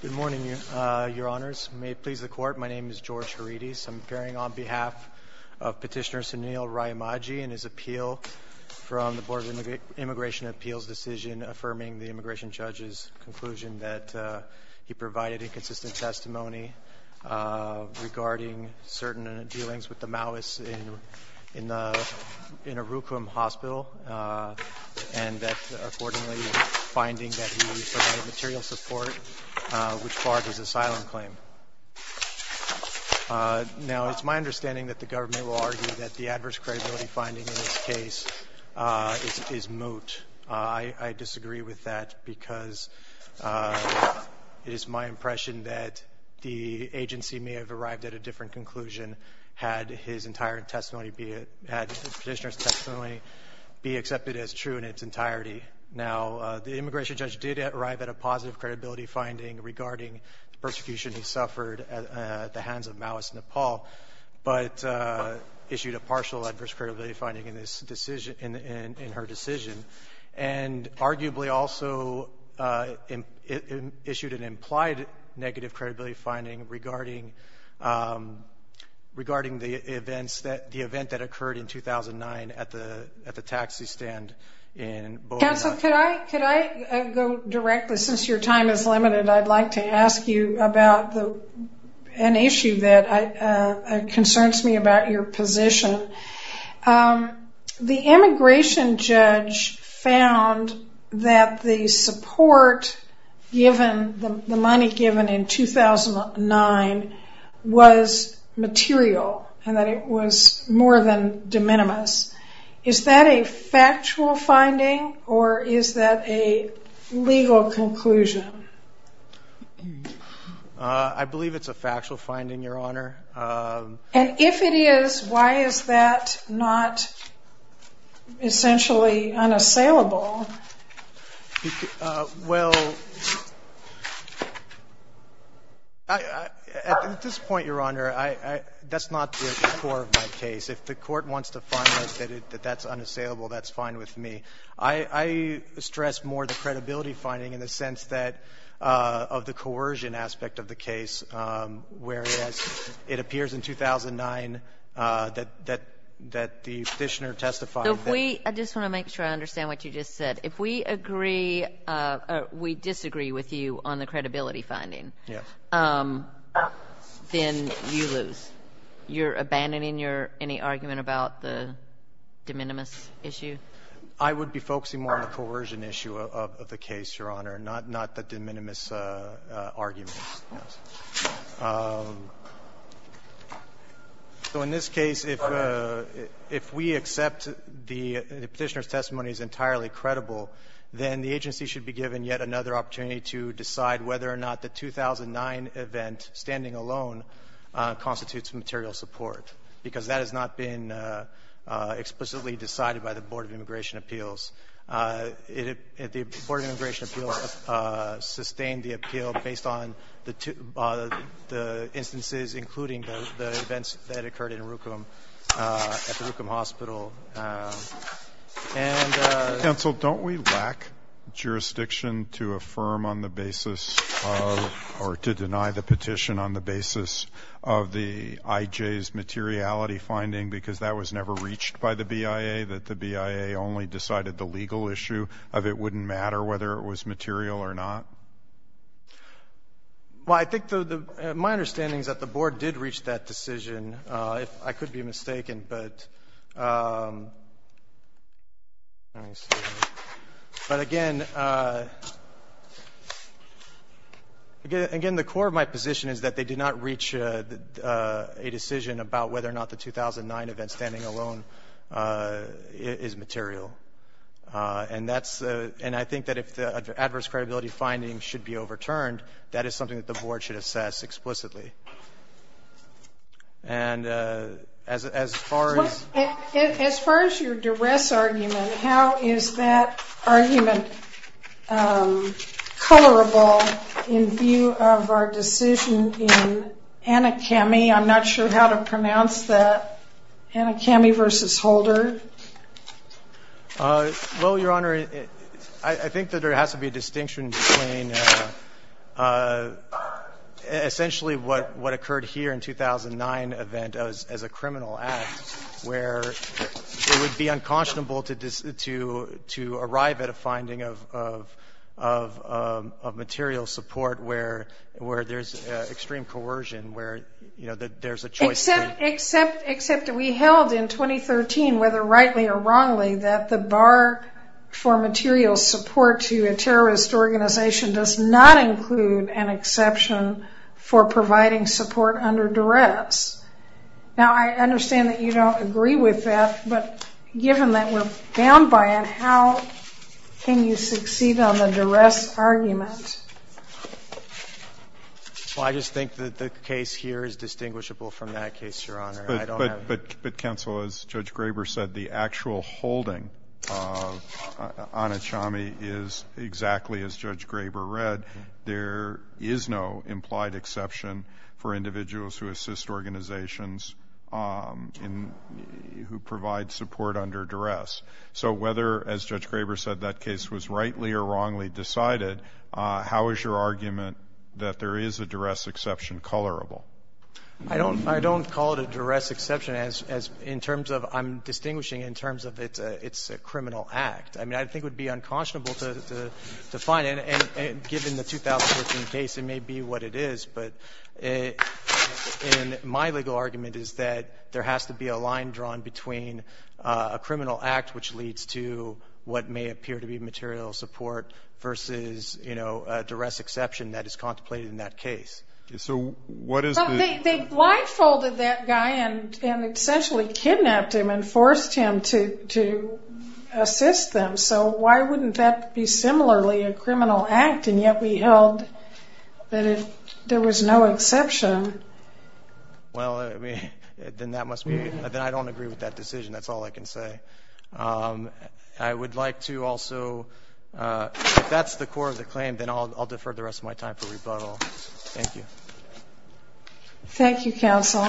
Good morning, Your Honors. May it please the Court, my name is George Haridis. I'm appearing on behalf of Petitioner Sunil Rayamajhi and his appeal from the Board of Immigration Appeals' decision affirming the immigration judge's conclusion that he provided inconsistent testimony regarding certain dealings with the Maoists in a Rukum hospital, and that, accordingly, finding that he provided material support which barred his asylum claim. Now, it's my understanding that the government will argue that the adverse credibility finding in this case is moot. I disagree with that because it is my impression that the agency may have arrived at a different conclusion had the petitioner's testimony be accepted as true in its entirety. Now, the immigration judge did arrive at a positive credibility finding regarding the persecution he suffered at the hands of Maoist Nepal, but issued a partial adverse credibility finding in this decision, in her decision, and arguably also issued an implied negative credibility finding regarding the events that, the event that occurred in 2009 at the taxi stand in Bogota. Counsel, could I go directly, since your time is limited, I'd like to ask you about an issue that concerns me about your position. The immigration judge found that the support given, the money given in 2009, was material, and that it was more than de minimis. Is that a factual finding, or is that a legal conclusion? I believe it's a factual finding, Your Honor. And if it is, why is that not essentially unassailable? Well, at this point, Your Honor, that's not the core of my case. If the Court wants to find that that's unassailable, that's fine with me. I stress more the credibility finding in the sense that, of the coercion aspect of the case, whereas it appears in 2009 that the Petitioner testified that. I just want to make sure I understand what you just said. If we agree or we disagree with you on the credibility finding, then you lose. You're abandoning your any argument about the de minimis issue? I would be focusing more on the coercion issue of the case, Your Honor, not the de minimis argument. So in this case, if we accept the Petitioner's testimony is entirely credible, then the agency should be given yet another opportunity to decide whether or not the 2009 event, standing alone, constitutes material support, because that has not been explicitly decided by the Board of Immigration Appeals. The Board of Immigration Appeals sustained the appeal based on the instances, including the events that occurred in Rukum at the Rukum Hospital. Counsel, don't we lack jurisdiction to affirm on the basis of or to deny the petition on the basis of the IJ's materiality finding, because that was never reached by the BIA, that the BIA only decided the legal issue of it wouldn't matter whether it was material or not? Well, I think my understanding is that the Board did reach that decision, if I could be mistaken. But again, the core of my position is that they did not reach a decision about whether or not the 2009 event, standing alone, is material. And I think that if the adverse credibility findings should be overturned, that is something that the Board should assess explicitly. As far as your duress argument, how is that argument colorable in view of our decision in ANICAMI? I'm not sure how to pronounce that. ANICAMI v. Holder? Well, Your Honor, I think that there has to be a distinction between essentially what occurred here in 2009 event as a criminal act, where it would be unconscionable to arrive at a finding of material support where there's extreme coercion, where there's a choice. Except that we held in 2013, whether rightly or wrongly, that the bar for material support to a terrorist organization does not include an exception for providing support under duress. Now, I understand that you don't agree with that, but given that we're bound by it, how can you succeed on the duress argument? Well, I just think that the case here is distinguishable from that case, Your Honor. But, Counsel, as Judge Graber said, the actual holding of ANICAMI is exactly as Judge Graber read. There is no implied exception for individuals who assist organizations who provide support under duress. So whether, as Judge Graber said, that case was rightly or wrongly decided, how is your argument that there is a duress exception colorable? I don't call it a duress exception in terms of I'm distinguishing in terms of it's a criminal act. I mean, I think it would be unconscionable to find it. And given the 2014 case, it may be what it is. But my legal argument is that there has to be a line drawn between a criminal act, which leads to what may appear to be material support versus, you know, a duress exception that is contemplated in that case. So what is the ---- So why wouldn't that be similarly a criminal act, and yet we held that there was no exception? Well, then I don't agree with that decision. That's all I can say. I would like to also, if that's the core of the claim, then I'll defer the rest of my time for rebuttal. Thank you. Thank you, Counsel.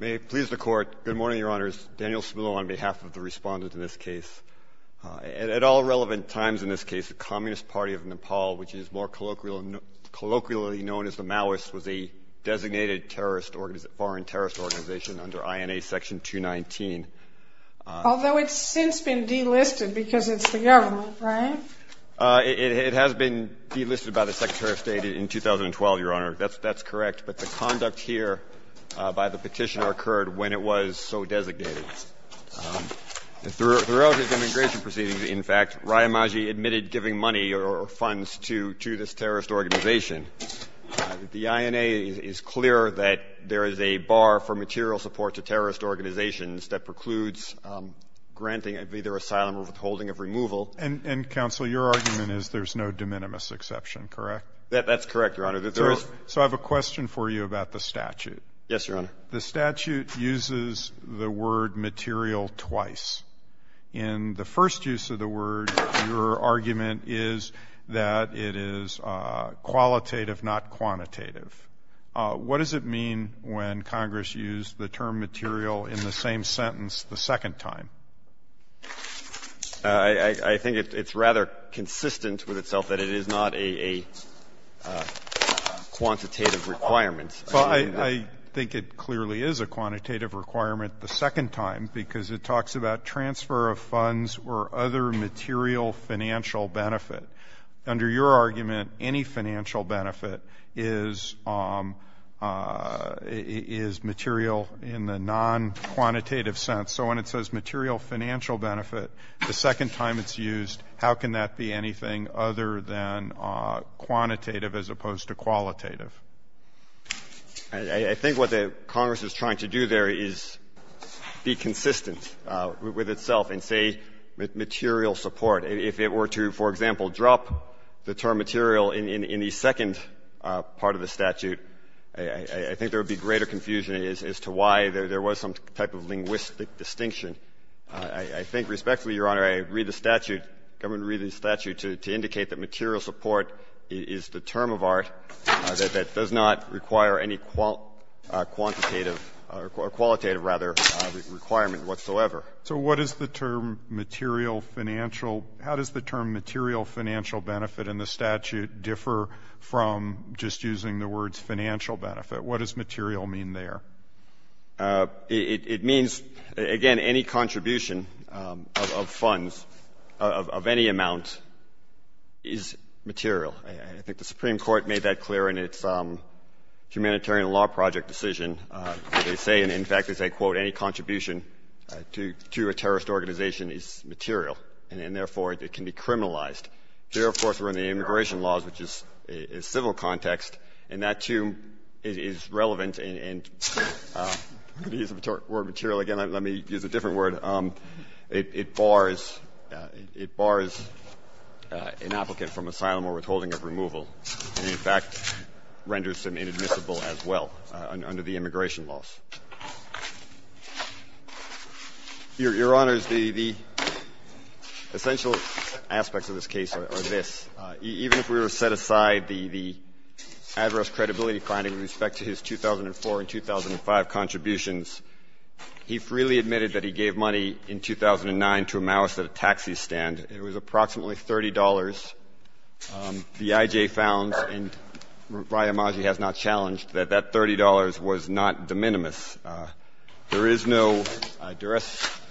May it please the Court. Good morning, Your Honors. Daniel Spillow on behalf of the Respondent in this case. At all relevant times in this case, the Communist Party of Nepal, which is more colloquially known as the Maoists, was a designated terrorist or foreign terrorist organization under INA Section 219. Although it's since been delisted because it's the government, right? It has been delisted by the Secretary of State in 2012, Your Honor. That's correct. But the conduct here by the Petitioner occurred when it was so designated. Throughout his immigration proceedings, in fact, Rayamaji admitted giving money or funds to this terrorist organization. The INA is clear that there is a bar for material support to terrorist organizations that precludes granting either asylum or withholding of removal. And, Counsel, your argument is there's no de minimis exception, correct? That's correct, Your Honor. So I have a question for you about the statute. Yes, Your Honor. The statute uses the word material twice. In the first use of the word, your argument is that it is qualitative, not quantitative. What does it mean when Congress used the term material in the same sentence the second time? I think it's rather consistent with itself that it is not a quantitative requirement. Well, I think it clearly is a quantitative requirement the second time, because it talks about transfer of funds or other material financial benefit. Under your argument, any financial benefit is material in the nonquantitative sense. So when it says material financial benefit the second time it's used, how can that be anything other than quantitative as opposed to qualitative? I think what the Congress is trying to do there is be consistent with itself and say material support. If it were to, for example, drop the term material in the second part of the statute, I think there would be greater confusion as to why there was some type of linguistic distinction. I think, respectfully, Your Honor, I read the statute, government read the statute to indicate that material support is the term of art that does not require any quantitative or qualitative, rather, requirement whatsoever. So what is the term material financial? How does the term material financial benefit in the statute differ from just using the words financial benefit? What does material mean there? It means, again, any contribution of funds of any amount is material. I think the Supreme Court made that clear in its humanitarian law project decision. They say, and in fact they say, quote, any contribution to a terrorist organization is material and therefore it can be criminalized. Here, of course, we're in the immigration laws, which is civil context, and that, too, is relevant. And I'm going to use the word material again. Let me use a different word. It bars an applicant from asylum or withholding of removal and, in fact, renders them inadmissible as well under the immigration laws. Your Honors, the essential aspects of this case are this. Even if we were to set aside the adverse credibility finding with respect to his 2004 and 2005 contributions, he freely admitted that he gave money in 2009 to a Maoist at a taxi stand. It was approximately $30. The I.J. found, and Riyamaji has not challenged, that that $30 was not de minimis. There is no duress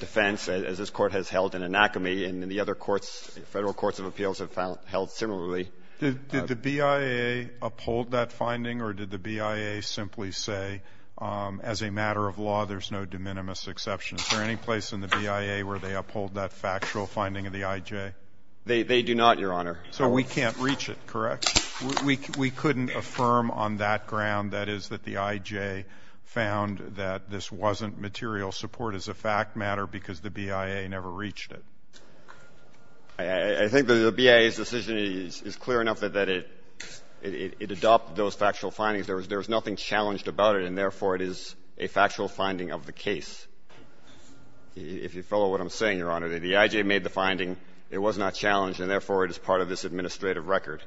defense, as this Court has held, in an acme, and the other courts, Federal courts of appeals have held similarly. Did the BIA uphold that finding, or did the BIA simply say, as a matter of law, there's no de minimis exception? Is there any place in the BIA where they uphold that factual finding of the I.J.? They do not, Your Honor. So we can't reach it, correct? We couldn't affirm on that ground, that is, that the I.J. found that this wasn't material support as a fact matter because the BIA never reached it? I think the BIA's decision is clear enough that it adopted those factual findings. There was nothing challenged about it, and therefore, it is a factual finding of the case. If you follow what I'm saying, Your Honor, the I.J. made the finding. It was not challenged, and therefore, it is part of this administrative record.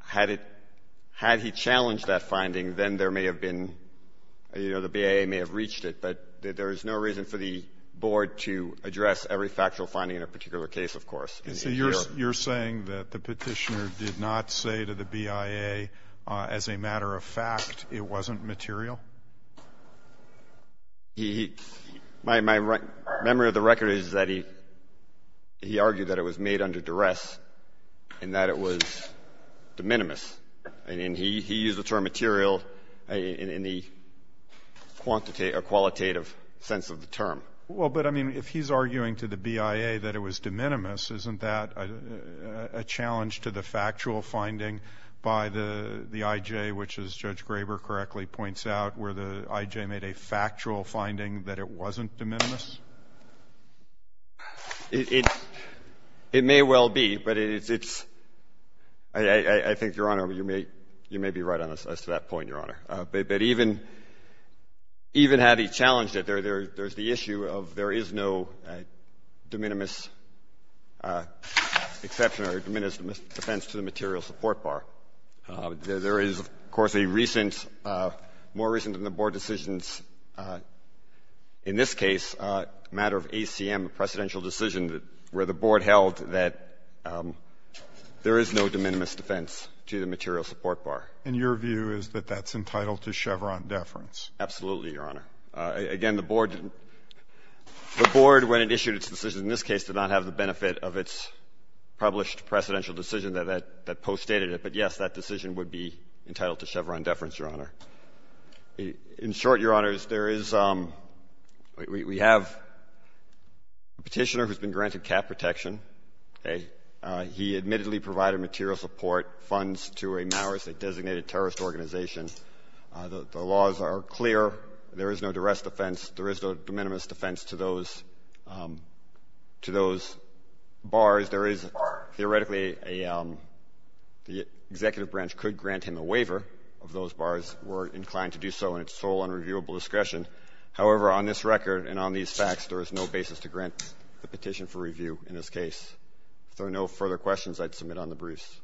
Had it — had he challenged that finding, then there may have been — you know, the BIA may have reached it, but there is no reason for the Board to address every factual finding in a particular case, of course. You're saying that the Petitioner did not say to the BIA, as a matter of fact, it wasn't material? He — my memory of the record is that he argued that it was made under duress and that it was de minimis. And he used the term material in the quantitative or qualitative sense of the term. Well, but, I mean, if he's arguing to the BIA that it was de minimis, isn't that a challenge to the factual finding by the I.J., which, as Judge Graber correctly points out, where the I.J. made a factual finding that it wasn't de minimis? It may well be, but it's — I think, Your Honor, you may be right on this, as to that point, Your Honor. But even had he challenged it, there's the issue of there is no de minimis exception or de minimis defense to the material support bar. There is, of course, a recent, more recent than the Board decisions, in this case, a matter of ACM, a precedential decision, where the Board held that there is no de minimis defense to the material support bar. And your view is that that's entitled to Chevron deference? Absolutely, Your Honor. Again, the Board — the Board, when it issued its decision in this case, did not have the benefit of its published precedential decision that poststated it. But, yes, that decision would be entitled to Chevron deference, Your Honor. In short, Your Honors, there is — we have a Petitioner who's been granted cap protection. He admittedly provided material support funds to a Maoist, a designated terrorist organization. The laws are clear. There is no de rest defense. There is no de minimis defense to those — to those bars. There is theoretically a — the Executive Branch could grant him a waiver of those bars. We're inclined to do so in its sole and reviewable discretion. However, on this record and on these facts, there is no basis to grant the petition for review in this case. If there are no further questions, I'd submit on the briefs.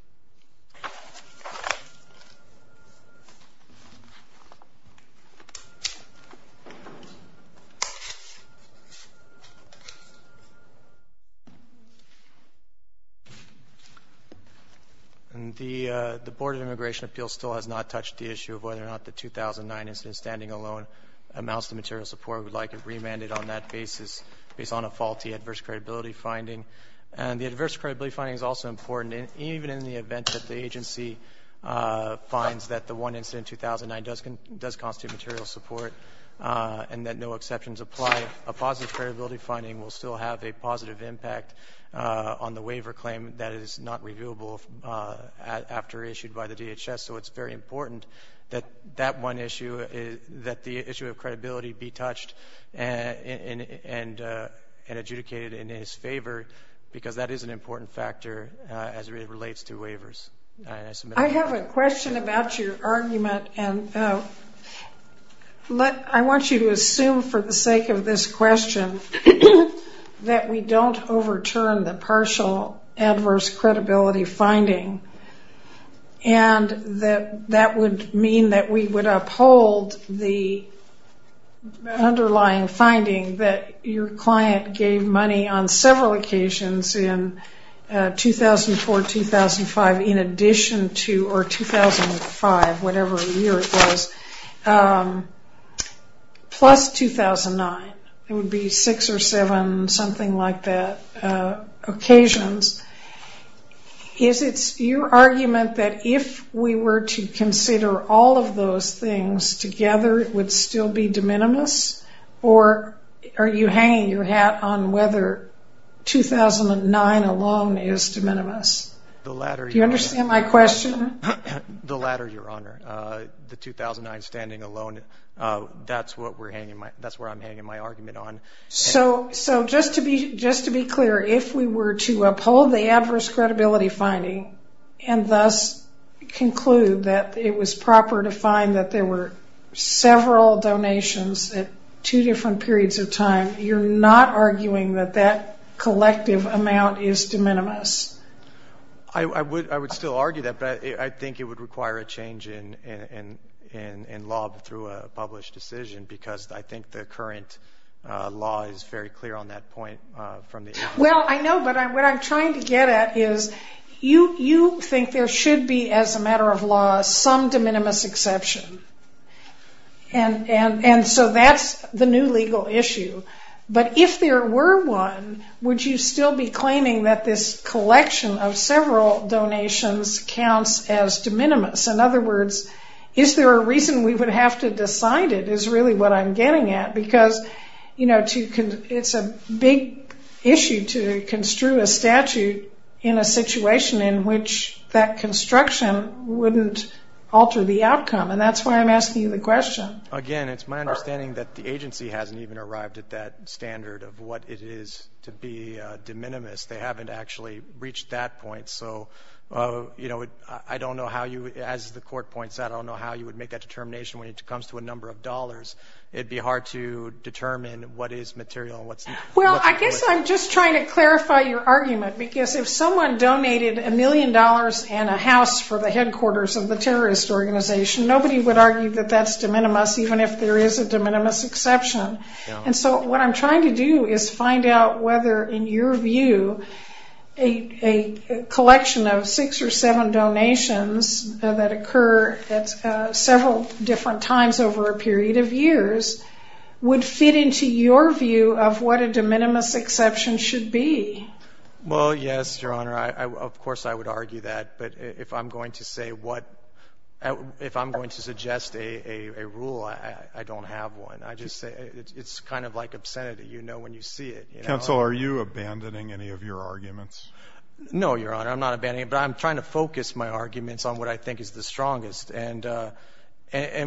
And the Board of Immigration Appeals still has not touched the issue of whether or not the 2009 incident standing alone amounts to material support. We'd like it remanded on that basis based on a faulty adverse credibility finding. And the adverse credibility finding is also important. And even in the event that the agency finds that the one incident in 2009 does constitute material support and that no exceptions apply, a positive credibility finding will still have a positive impact on the waiver claim that is not reviewable after issued by the DHS. So it's very important that that one issue — that the issue of credibility be touched and adjudicated in his favor because that is an important factor as it relates to waivers. I'd submit on that. I have a question about your argument. And I want you to assume for the sake of this question that we don't overturn the partial adverse credibility finding and that that would mean that we would uphold the underlying finding that your client gave money on several occasions in 2004-2005 in addition to — or 2005, whatever year it was, plus 2009. It would be six or seven something like that occasions. Is it your argument that if we were to consider all of those things together, it would still be de minimis? Or are you hanging your hat on whether 2009 alone is de minimis? The latter, Your Honor. Do you understand my question? The latter, Your Honor. The 2009 standing alone, that's what we're hanging — that's where I'm hanging my argument on. So just to be clear, if we were to uphold the adverse credibility finding and thus conclude that it was proper to find that there were several donations at two different periods of time, you're not arguing that that collective amount is de minimis? I would still argue that, but I think it would require a change in law through a published decision because I think the current law is very clear on that point from the — Well, I know, but what I'm trying to get at is you think there should be, as a matter of law, some de minimis exception. And so that's the new legal issue. But if there were one, would you still be claiming that this collection of several donations counts as de minimis? In other words, is there a reason we would have to decide it is really what I'm getting at because, you know, it's a big issue to construe a statute in a situation in which that construction wouldn't alter the outcome. And that's why I'm asking you the question. Again, it's my understanding that the agency hasn't even arrived at that standard of what it is to be de minimis. They haven't actually reached that point. So, you know, I don't know how you — as the court points out, I don't know how you would make that determination when it comes to a number of dollars. It'd be hard to determine what is material and what's not. Well, I guess I'm just trying to clarify your argument because if someone donated a million dollars and a house for the headquarters of the terrorist organization, nobody would argue that that's de minimis even if there is a de minimis exception. And so what I'm trying to do is find out whether, in your view, a collection of six or seven donations that occur at several different times over a period of years would fit into your view of what a de minimis exception should be. Well, yes, Your Honor. Of course, I would argue that. But if I'm going to say what — if I'm going to suggest a rule, I don't have one. I just say it's kind of like obscenity. You know when you see it. Counsel, are you abandoning any of your arguments? No, Your Honor. I'm not abandoning. But I'm trying to focus my arguments on what I think is the strongest. And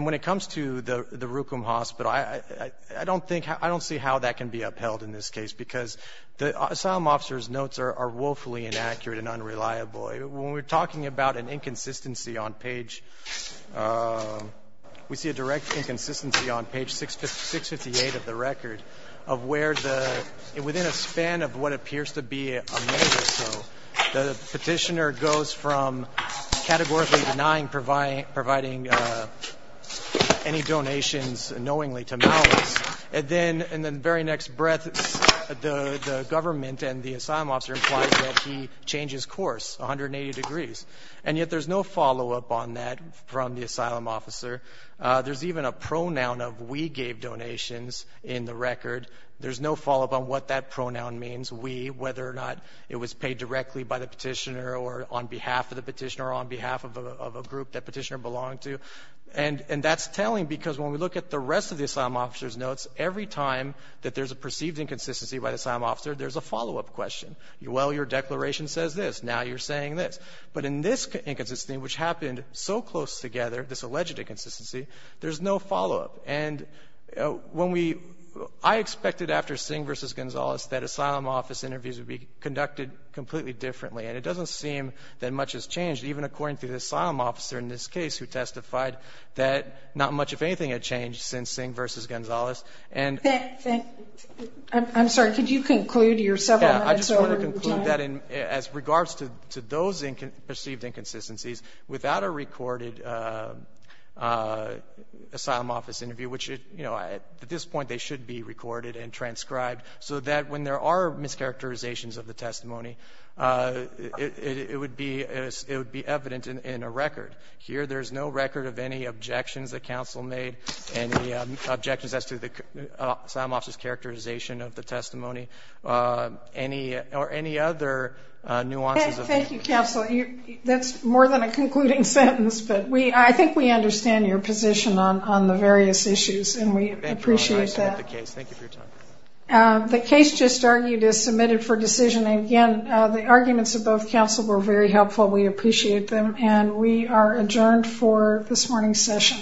when it comes to the Rukum Hospital, I don't think — I don't see how that can be upheld in this case because the asylum officer's notes are woefully inaccurate and unreliable. When we're talking about an inconsistency on page — we see a direct inconsistency on page 658 of the record of where the — within a span of what appears to be a month or so, the petitioner goes from categorically denying providing any donations knowingly to malice. And then in the very next breath, the government and the asylum officer implies that he changes course 180 degrees. And yet there's no follow-up on that from the asylum officer. There's even a pronoun of we gave donations in the record. There's no follow-up on what that pronoun means, we, whether or not it was paid directly by the petitioner or on behalf of the petitioner or on behalf of a group that petitioner belonged to. And that's telling because when we look at the rest of the asylum officer's notes, every time that there's a perceived inconsistency by the asylum officer, there's a follow-up question. Well, your declaration says this. Now you're saying this. But in this inconsistency, which happened so close together, this alleged inconsistency, there's no follow-up. And when we — I expected after Singh v. Gonzales that asylum office interviews would be conducted completely differently. And it doesn't seem that much has changed, even according to the asylum officer in this case who testified that not much, if anything, had changed since Singh v. Gonzales. And — I'm sorry. Could you conclude your several minutes over time? Yeah. I just want to conclude that as regards to those perceived inconsistencies, without a recorded asylum office interview, which at this point they should be recorded and transcribed, so that when there are mischaracterizations of the testimony, it would be evident in a record of any objections that counsel made, any objections as to the asylum officer's characterization of the testimony, any — or any other nuances of — Thank you, counsel. That's more than a concluding sentence. But we — I think we understand your position on the various issues, and we appreciate that. Thank you, Your Honor. I submit the case. Thank you for your time. The case just argued is submitted for decision. And again, the arguments of both counsel were very helpful. We appreciate them. And we are adjourned for this morning's session.